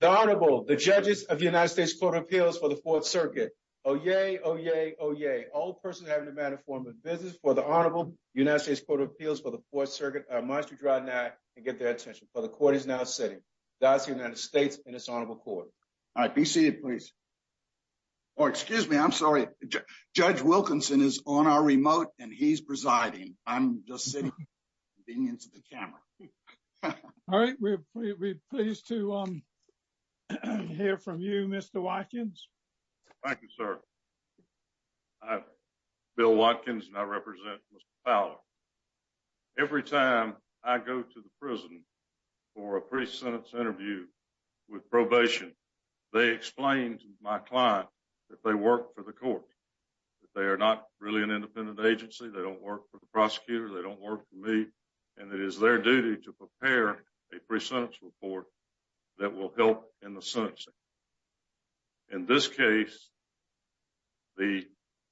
The Honorable, the judges of the United States Court of Appeals for the Fourth Circuit. Oh, yay, oh, yay, oh, yay. All persons having a matter of formal business for the Honorable United States Court of Appeals for the Fourth Circuit must withdraw now and get their attention, for the court is now sitting. That's the United States in its Honorable Court. All right. Be seated, please. Oh, excuse me. I'm sorry. Judge Wilkinson is on our remote, and he's presiding. I'm just sitting, being into the camera. All right. We're pleased to hear from you, Mr. Watkins. Thank you, sir. I'm Bill Watkins, and I represent Mr. Fowler. Every time I go to the prison for a pre-sentence interview with probation, they explain to my client that they work for the court, that they are not really an independent agency, they don't work for the prosecutor, they don't work for me, and it is their duty to prepare a pre-sentence report that will help in the sentencing. In this case, the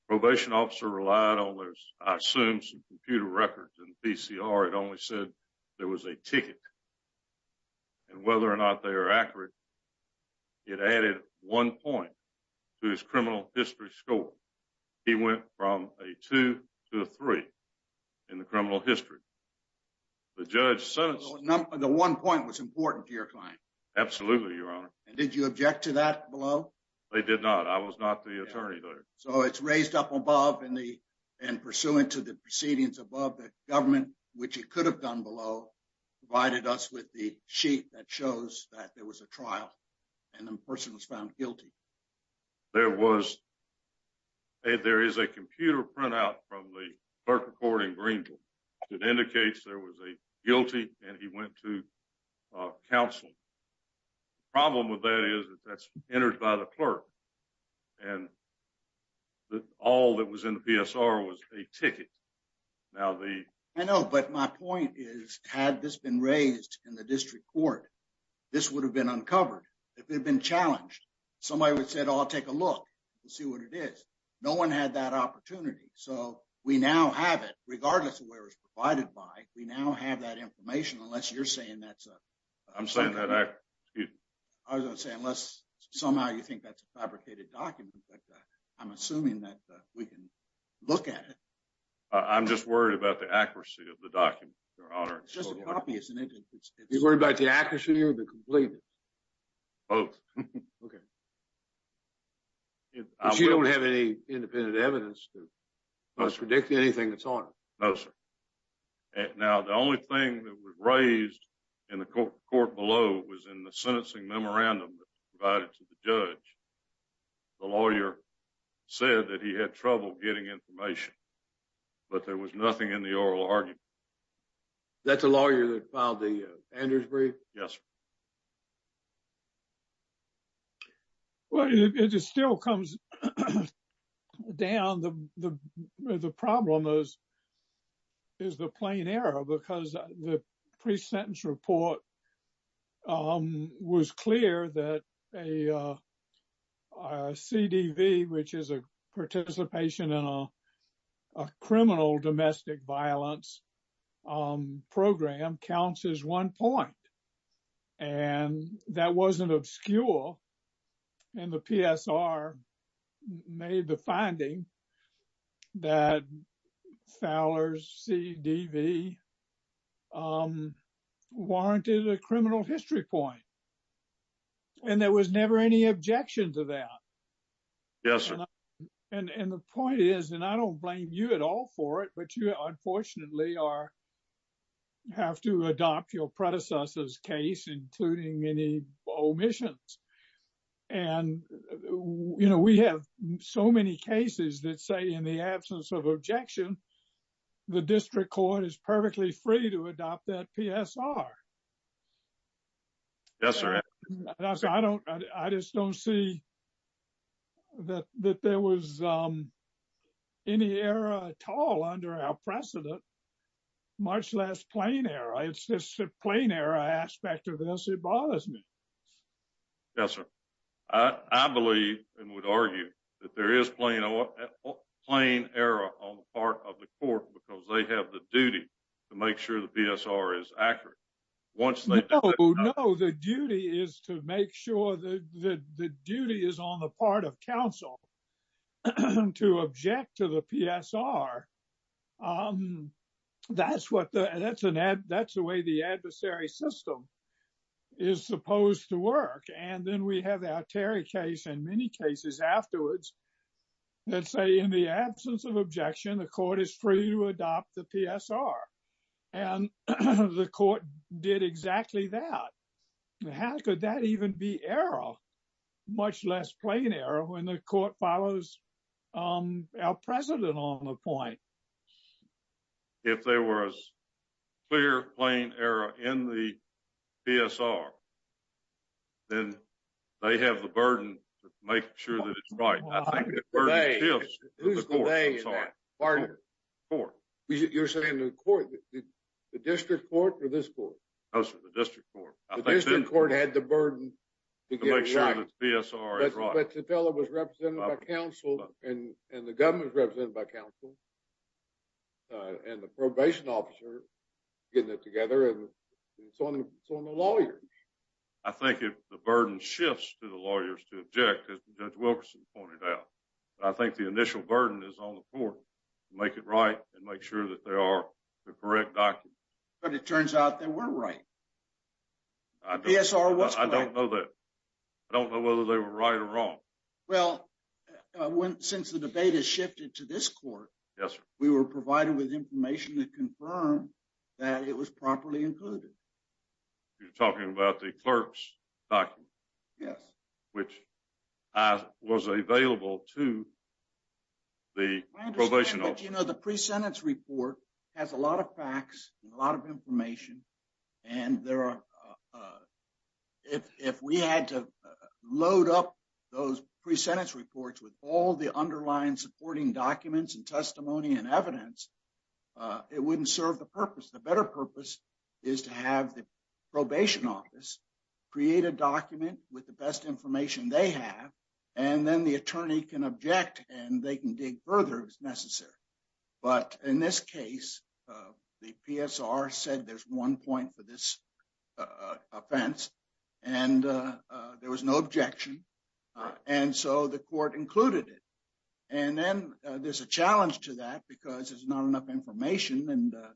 probation officer relied on their, I assume, some computer records and PCR. It only said there was a ticket, and whether or not they are accurate, it added one point to his criminal history score. He went from a two to a three in the criminal history. The judge sentenced— The one point was important to your client. Absolutely, Your Honor. And did you object to that below? I did not. I was not the attorney there. So it's raised up above, and pursuant to the proceedings above, the government, which it could have done below, provided us with the that shows that there was a trial, and the person was found guilty. There is a computer printout from the clerk of court in Greenville that indicates there was a guilty, and he went to counsel. The problem with that is that that's entered by the clerk, and all that was in the PSR was a ticket. Now the— This would have been uncovered if it had been challenged. Somebody would have said, oh, I'll take a look and see what it is. No one had that opportunity. So we now have it, regardless of where it was provided by, we now have that information unless you're saying that's a— I'm saying that I— I was going to say unless somehow you think that's a fabricated document, but I'm assuming that we can look at it. I'm just worried about the accuracy of the document, Your Honor. It's just a copy, isn't it? You're worried about the accuracy or the completeness? Both. Okay. But you don't have any independent evidence to— No, sir. —predict anything that's on it? No, sir. Now, the only thing that was raised in the court below was in the sentencing memorandum that was provided to the judge. The lawyer said that he had trouble getting information, but there was nothing in the oral argument. That's a lawyer that filed the Andrews brief? Yes. Well, it just still comes down. The problem is the plain error because the pre-sentence report was clear that a CDV, which is a participation in a criminal domestic violence, program counts as one point. And that wasn't obscure. And the PSR made the finding that Fowler's CDV warranted a criminal history point. And there was never any objection to that. Yes, sir. And the point is, and I don't blame you at all for it, but you, unfortunately, have to adopt your predecessor's case, including any omissions. And we have so many cases that say in the absence of objection, the district court is perfectly free to adopt that PSR. Yes, sir. I just don't see that there was any error at all under our precedent, much less plain error. It's just a plain error aspect of this. It bothers me. Yes, sir. I believe and would argue that there is plain error on the part of the court because they have the duty to make sure the PSR is accurate. Once they know the duty is to make sure that the duty is on the part of counsel to object to the PSR. That's the way the adversary system is supposed to work. And then we have our Terry case and many cases afterwards that say in the absence of objection, the court is free to adopt the PSR. And the court did exactly that. How could that even be error, much less plain error when the court follows our precedent on the point? If there was clear, plain error in the PSR, then they have the burden to make sure that it's right. I think the burden shifts to the court. Who's the they in that part of the court? You're saying the court, the district court or this court? No, sir, the district court. The district court had the burden to get it right. To make sure that the PSR is right. But the fellow was represented by counsel and the government was represented by counsel and the probation officer getting it together and so on and so on the lawyers. I think the burden shifts to the lawyers to object as Judge Wilkerson pointed out. But I think the initial burden is on the court to make it right and make sure that they are the correct document. But it turns out they were right. I don't know that. I don't know whether they were right or wrong. Well, since the debate has shifted to this court, we were provided with information to confirm that it was properly included. You're talking about the clerk's document? Yes. Which was available to the probation officer. I understand, but you know, the pre-sentence report has a lot of facts and a lot of information. And there are, if we had to load up those pre-sentence reports with all the underlying supporting documents and the better purpose is to have the probation office create a document with the best information they have. And then the attorney can object and they can dig further if it's necessary. But in this case, the PSR said there's one point for this offense and there was no objection. And so the court included it. And then there's a challenge to that because there's not enough information to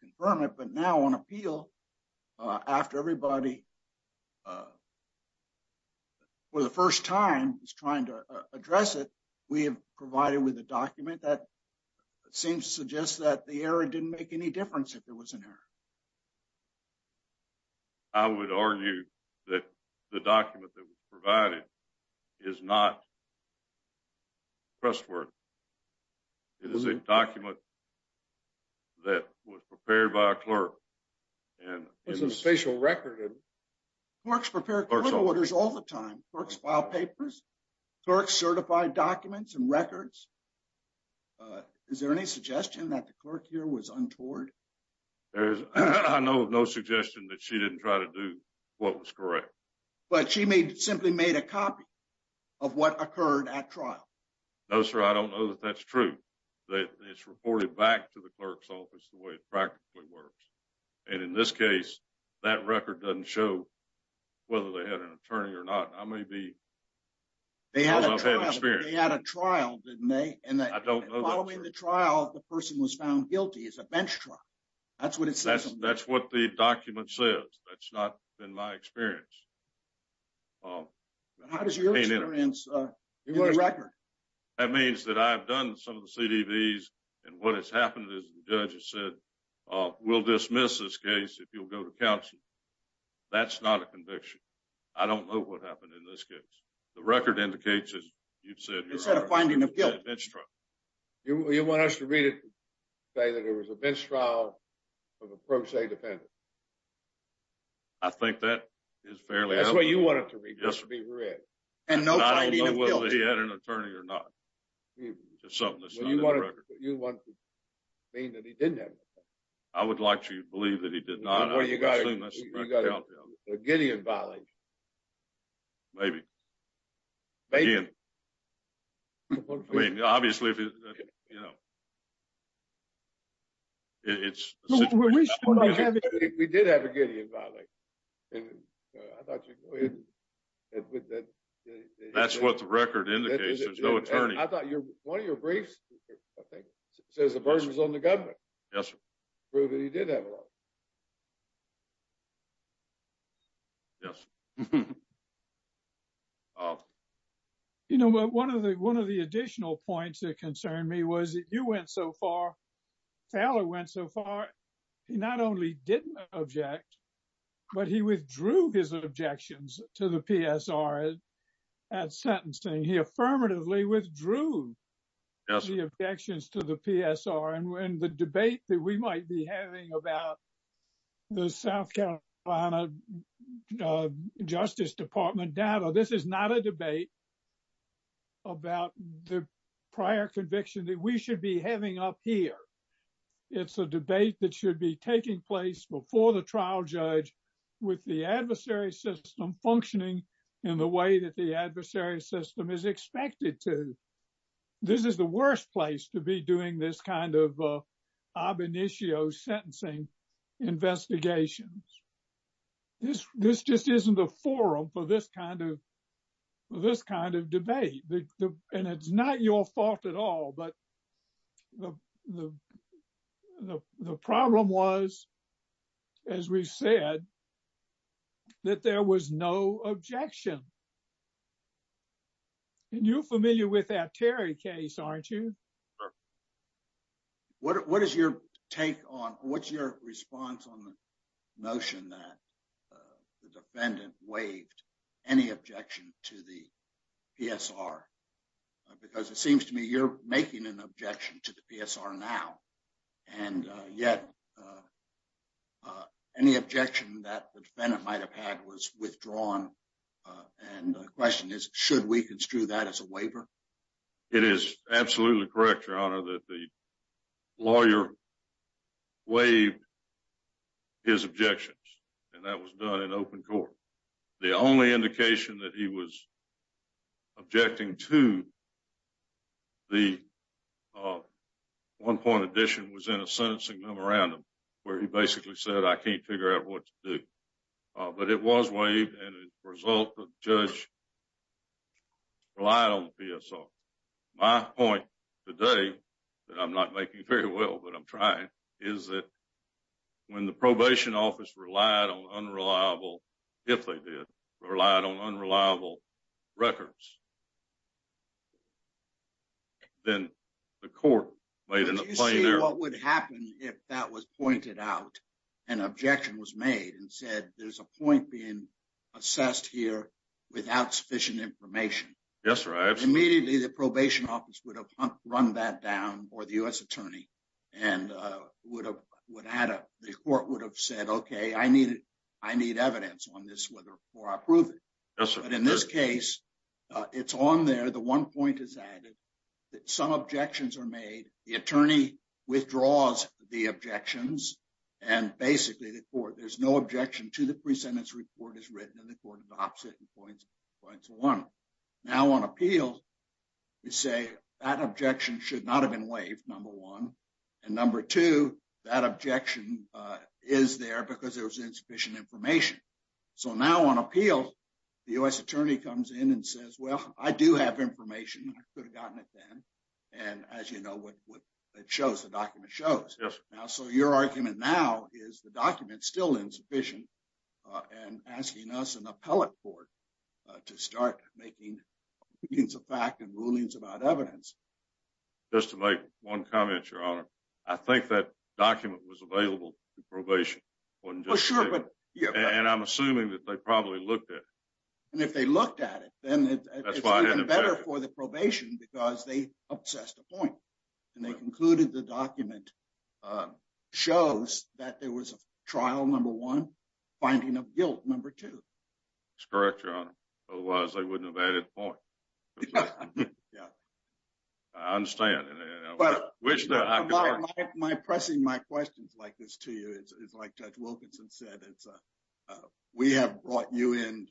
confirm it. But now on appeal, after everybody for the first time is trying to address it, we have provided with a document that seems to suggest that the error didn't make any difference if there was an error. I would argue that the document that was provided is not trustworthy. It is a document that was prepared by a clerk. There's a special record. Clerks prepare court orders all the time. Clerks file papers, clerks certify documents and records. Is there any suggestion that the clerk here was untoward? I know of no suggestion that she didn't try to do what was correct. But she may simply made a copy of what occurred at trial. No, sir. I don't know that that's true. It's reported back to the clerk's office the way it practically works. And in this case, that record doesn't show whether they had an attorney or not. I may be... They had a trial, didn't they? I don't know that, sir. Following the trial, the person was found guilty as a bench trial. That's what it says. That's not been my experience. How does your experience... That means that I've done some of the CDVs and what has happened is the judge has said, we'll dismiss this case if you'll go to counsel. That's not a conviction. I don't know what happened in this case. The record indicates as you've said... It's a finding of guilt. ...bench trial. You want us to read it to say that there was a bench trial of a pro se defendant? I think that is fairly... That's what you want it to be, just to be read. And no finding of guilt. I don't know whether he had an attorney or not. Just something that's not in the record. You want to mean that he didn't have an attorney? I would like to believe that he did not. Well, you got a Gideon violation. Maybe. Maybe. I mean, obviously, you know, it's... We did have a Gideon violation. I thought you... That's what the record indicates, there's no attorney. I thought one of your briefs, I think, says the burden is on the government. Yes, sir. Proving he did have a lawyer. Yes. You know, one of the additional points that concerned me was that you went so far, Taylor went so far, he not only didn't object, but he withdrew his objections to the PSR at sentencing. He affirmatively withdrew the objections to the PSR. And when the debate that we might be having about the South Carolina Justice Department data, this is not a debate about the prior conviction that we should be having up here. It's a debate that should be taking place before the trial judge with the adversary system functioning in the way that the adversary system is expected to. This is the worst place to be doing this kind of ab initio sentencing investigations. This just isn't a forum for this kind of debate. And it's not your fault at all. But the problem was, as we said, that there was no objection. And you're familiar with that Terry case, aren't you? What is your take on, what's your response on the notion that the defendant waived any objection to the PSR? Because it seems to me you're making an objection to the PSR now. And yet, any objection that the defendant might have had was withdrawn. And the question is, should we construe that as a waiver? It is absolutely correct, your honor, that the lawyer waived his objections. And that was done in open court. The only indication that he was objecting to the one-point addition was in a sentencing memorandum, where he basically said, I can't figure out what to do. But it was waived, and as a result, the judge relied on the PSR. My point today, that I'm not making very well, but I'm trying, is that when the probation office relied on unreliable, if they did, relied on unreliable records, then the court made a plain error. Did you see what would happen if that was pointed out, an objection was made, and said, there's a point being assessed here without sufficient information? Yes, your honor. Immediately, the probation office would have run that down, or the U.S. attorney, and the court would have said, okay, I need evidence on this before I approve it. Yes, sir. But in this case, it's on there. The one point is added, that some objections are made. The attorney withdraws the objections, and basically, the court, there's no objection to the pre-sentence report as written, and the court adopts it and points one. Now, on appeal, you say, that objection should not have been waived, number one. And number two, that objection is there because there was insufficient information. So now, on appeal, the U.S. attorney comes in and says, well, I do have information, I could have gotten it then, and as you know, what it shows, the document shows. Yes, sir. Now, so your argument now is, the document's still insufficient, and asking us, an appellate court, to start making readings of fact and rulings about evidence. Just to make one comment, your honor. I think that document was available to probation, wasn't it? Oh, sure, but, yeah. And I'm assuming that they probably looked at it. And if they looked at it, then it's even better for the probation, because they obsessed a point, and they concluded the document shows that there was a trial, number one, finding of guilt, number two. That's correct, your honor. Otherwise, they wouldn't have added a point. Yeah, yeah. I understand. My pressing my questions like this to you, it's like Judge Wilkinson said, it's, we have brought you in,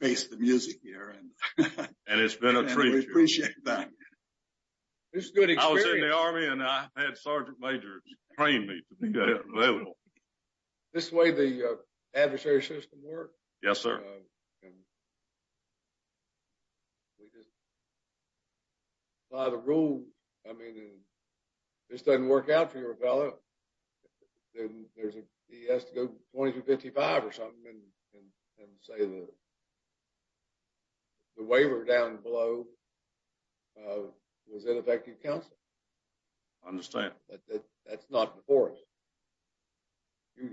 face the music here, and we appreciate that. It's a good experience. I was in the Army, and I had Sergeant Majors train me to be available. This way, the adversary system works. Yes, sir. And we just apply the rule. I mean, this doesn't work out for your fellow. Then there's a, he has to go 2255 or something, and say the waiver down below was ineffective counsel. I understand. That's not before us.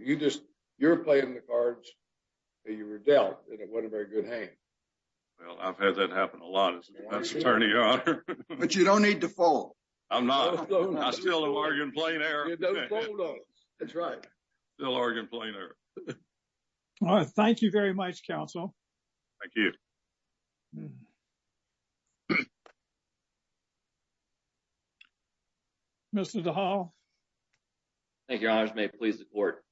You just, you're playing the cards that you were dealt, and it wasn't a very good hand. Well, I've had that happen a lot as an attorney, your honor. But you don't need to fall. I'm not, I'm still Oregon Plain Air. That's right. Still Oregon Plain Air. All right. Thank you very much, counsel. Thank you. Mr. DeHal. Thank you, your honors. May it please the court.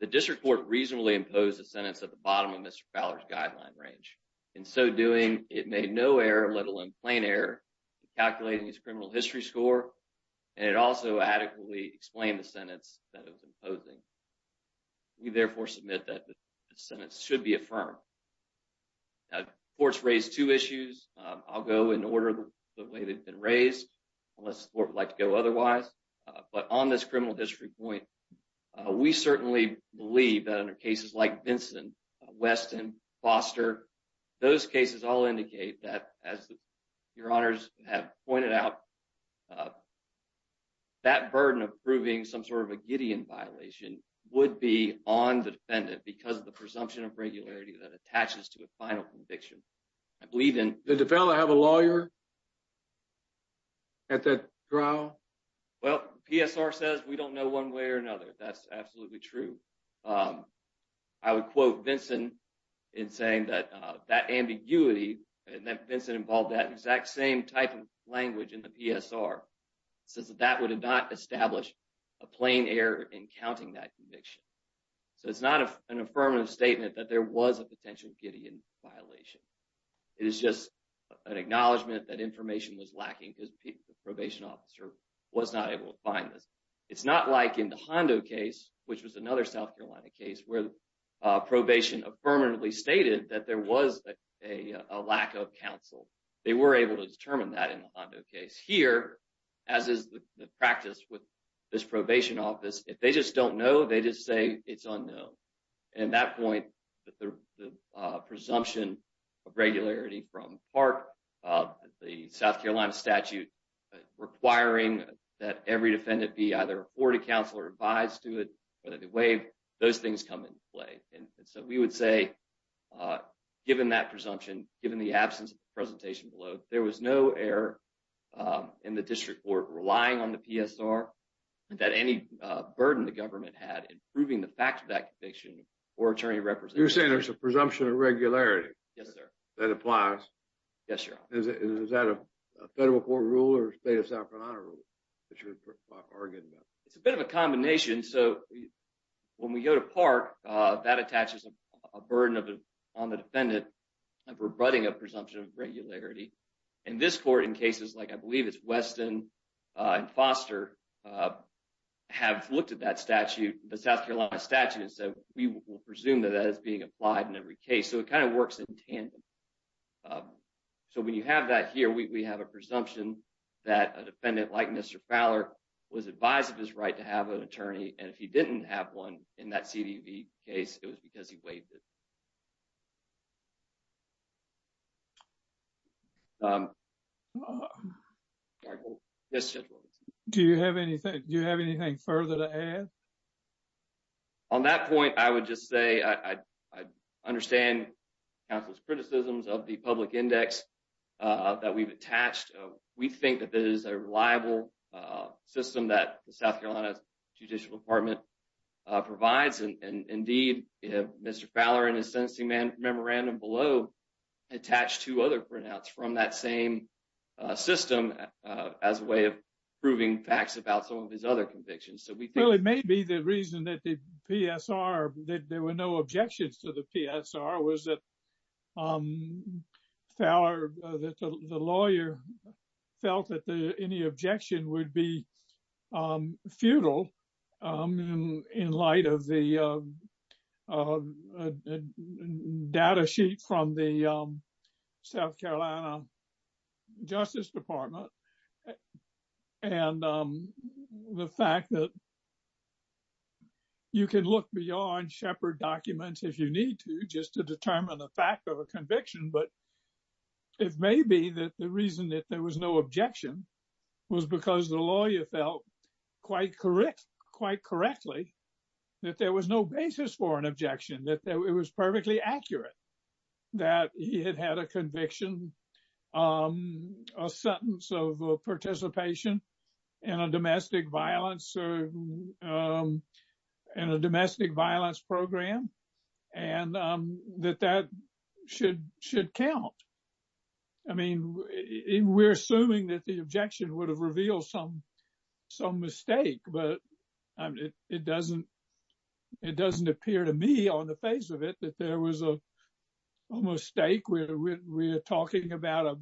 The district court reasonably imposed a sentence at the bottom of Mr. Fowler's guideline range. In so doing, it made no error, let alone plain error, calculating his criminal history score. And it also adequately explained the sentence that it was imposing. We therefore submit that the sentence should be affirmed. Now, courts raised two issues. I'll go in order the way they've been raised. Unless the court would like to go otherwise. But on this criminal history point, we certainly believe that under cases like Vincent, Weston, Foster, those cases all indicate that, as your honors have pointed out, that burden of proving some sort of a Gideon violation would be on the defendant because of the presumption of regularity that attaches to a final conviction. I believe in... Did the defendant have a lawyer at that trial? Well, PSR says we don't know one way or another. That's absolutely true. I would quote Vincent in saying that that ambiguity, and that Vincent involved that exact same type of language in the PSR, says that that would have not established a plain error in counting that conviction. So it's not an affirmative statement that there was a potential Gideon violation. It is just an acknowledgment that information was lacking because the probation officer was not able to find this. It's not like in the Hondo case, which was another South Carolina case, where probation affirmatively stated that there was a lack of counsel. They were able to determine that in the Hondo case. Here, as is the practice with this probation office, if they just don't know, they just say it's unknown. And at that point, the presumption of regularity from part of the South Carolina statute requiring that every defendant be either afforded counsel or advised to it, whether they waive, those things come into play. And so we would say, given that presumption, given the absence of the presentation below, there was no error in the district court relying on the PSR that any burden the government had in proving the fact of that conviction or attorney representative. You're saying there's a presumption of regularity? Yes, sir. That applies? Yes, sir. Is that a federal court rule or state of South Carolina rule that you're arguing about? It's a bit of a combination. So when we go to park, that attaches a burden on the defendant of rebutting a presumption of regularity. And this court, in cases like I believe it's Weston and Foster, have looked at that statute, the South Carolina statute, and said, we will presume that that is being applied in every case. So it kind of works in tandem. So when you have that here, we have a presumption that a defendant like Mr. Fowler was advised of his right to have an attorney. And if he didn't have one in that CDV case, it was because he waived it. Do you have anything further to add? No. On that point, I would just say I understand counsel's criticisms of the public index that we've attached. We think that it is a reliable system that the South Carolina Judicial Department provides. And indeed, Mr. Fowler, in his sentencing memorandum below, attached two other printouts from that same system as a way of proving facts about some of his other convictions. Well, it may be the reason that the PSR, that there were no objections to the PSR, was that Fowler, the lawyer, felt that any objection would be futile in light of the data sheet from the South Carolina Justice Department. And the fact that you can look beyond Shepherd documents if you need to, just to determine the fact of a conviction. But it may be that the reason that there was no objection was because the lawyer felt quite correct, quite correctly, that there was no basis for an objection, that it was perfectly accurate that he had had a conviction, a sentence of participation in a domestic violence program, and that that should count. I mean, we're assuming that the objection would have revealed some mistake. But it doesn't appear to me on the face of it that there was a mistake. We're talking about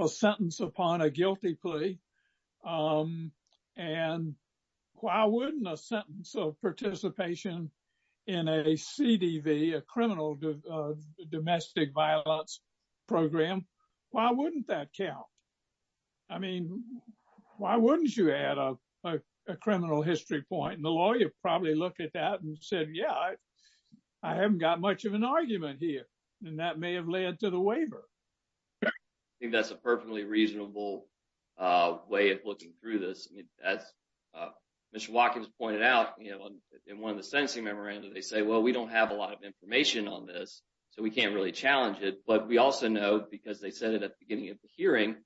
a sentence upon a guilty plea. And why wouldn't a sentence of participation in a CDV, a criminal domestic violence program, why wouldn't that count? I mean, why wouldn't you add a criminal history point? And the lawyer probably looked at that and said, yeah, I haven't got much of an argument here. And that may have led to the waiver. I think that's a perfectly reasonable way of looking through this. As Mr. Watkins pointed out, in one of the sentencing memoranda, they say, well, we don't have a lot of information on this, so we can't really challenge it. But we also know, because they said it at the beginning of the hearing,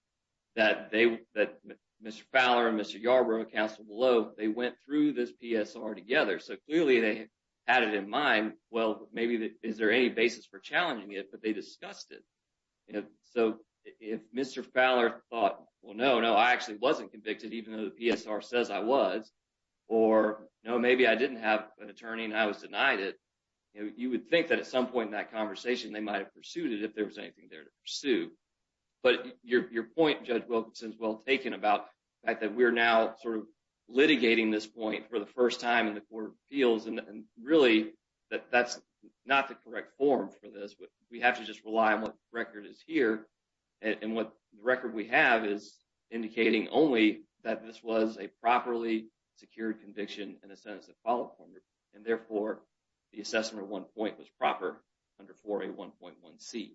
that Mr. Fowler and Mr. Yarbrough, counsel below, they went through this PSR together. So clearly, they had it in mind. Well, maybe is there any basis for challenging it? But they discussed it. So if Mr. Fowler thought, well, no, no, I actually wasn't convicted, even though the PSR says I was. Or, no, maybe I didn't have an attorney and I was denied it. You would think that at some point in that conversation, they might have pursued it if there was anything there to pursue. But your point, Judge Wilkinson, is well taken about the fact that we're now sort of litigating this point for the first time in the court of appeals. And really, that's not the correct form for this. We have to just rely on what the record is here. And the record we have is indicating only that this was a properly secured conviction in a sentence of follow-up order. And therefore, the assessment of one point was proper under 4A1.1c.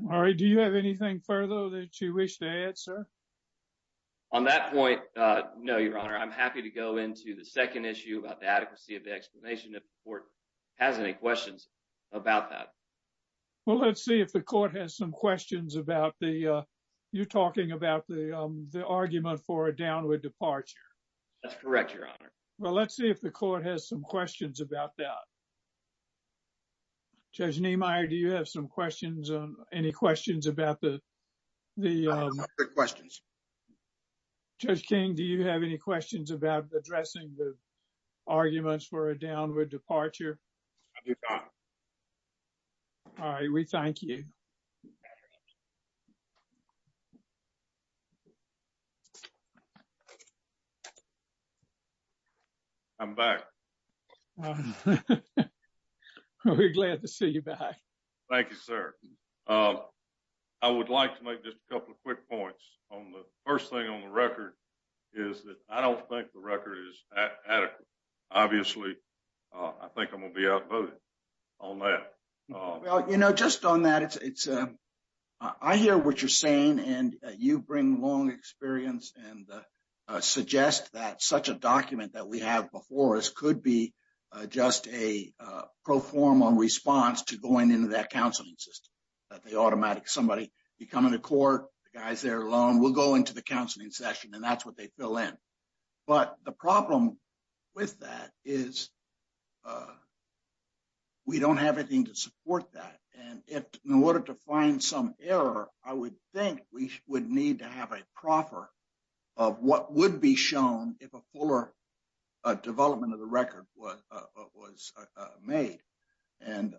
Murray, do you have anything further that you wish to add, sir? On that point, no, Your Honor. I'm happy to go into the second issue about the adequacy of the explanation if the court has any questions about that. Well, let's see if the court has some questions about the, you're talking about the argument for a downward departure. That's correct, Your Honor. Well, let's see if the court has some questions about that. Judge Niemeyer, do you have some questions, any questions about the- I have no further questions. Judge King, do you have any questions about addressing the arguments for a downward departure? I do not. All right, we thank you. I'm back. We're glad to see you back. Thank you, sir. I would like to make just a couple of quick points on the first thing on the record is that I don't think the record is adequate. Obviously, I think I'm going to be outvoted on that. Well, you know, just on that, it's, I hear what you're saying, and you bring long experience and suggest that such a document that we have before us could be just a pro forma response to going into that counseling system, that they automatically, somebody, you come into court, the guy's there alone, we'll go into the counseling session, and that's what they fill in. But the problem with that is we don't have anything to support that. And if, in order to find some error, I would think we would need to have a proffer of what would be shown if a fuller development of the record was made. And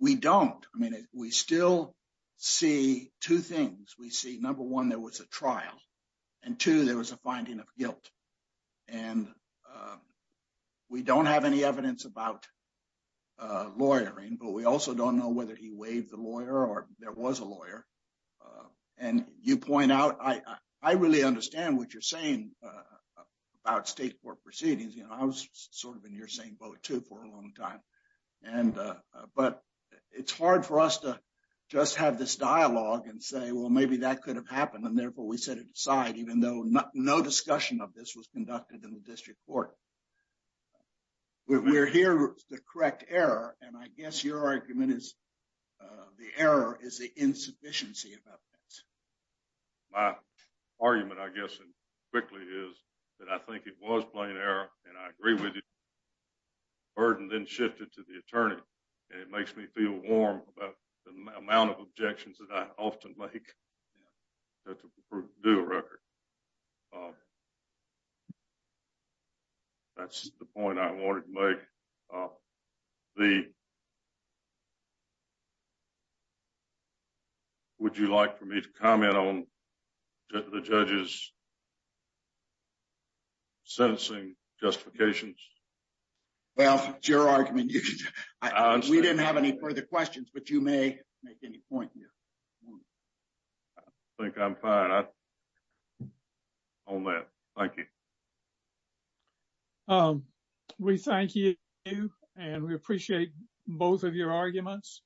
we don't. I mean, we still see two things. We see, number one, there was a trial. And two, there was a finding of guilt. And we don't have any evidence about lawyering, but we also don't know whether he waived the lawyer or there was a lawyer. And you point out, I really understand what you're saying about state court proceedings. You know, I was sort of in your same boat too for a long time. But it's hard for us to just have this dialogue and say, well, maybe that could have happened, therefore we set it aside, even though no discussion of this was conducted in the district court. We're here with the correct error. And I guess your argument is the error is the insufficiency about that. My argument, I guess, quickly is that I think it was plain error, and I agree with you. Burden then shifted to the attorney. And it makes me feel warm about the amount of objections that I often make. That's a proof of due record. That's the point I wanted to make. Would you like for me to comment on the judge's sentencing justifications? Well, it's your argument. We didn't have any further questions, but you may make any point here. I think I'm fine on that. Thank you. We thank you, and we appreciate both of your arguments.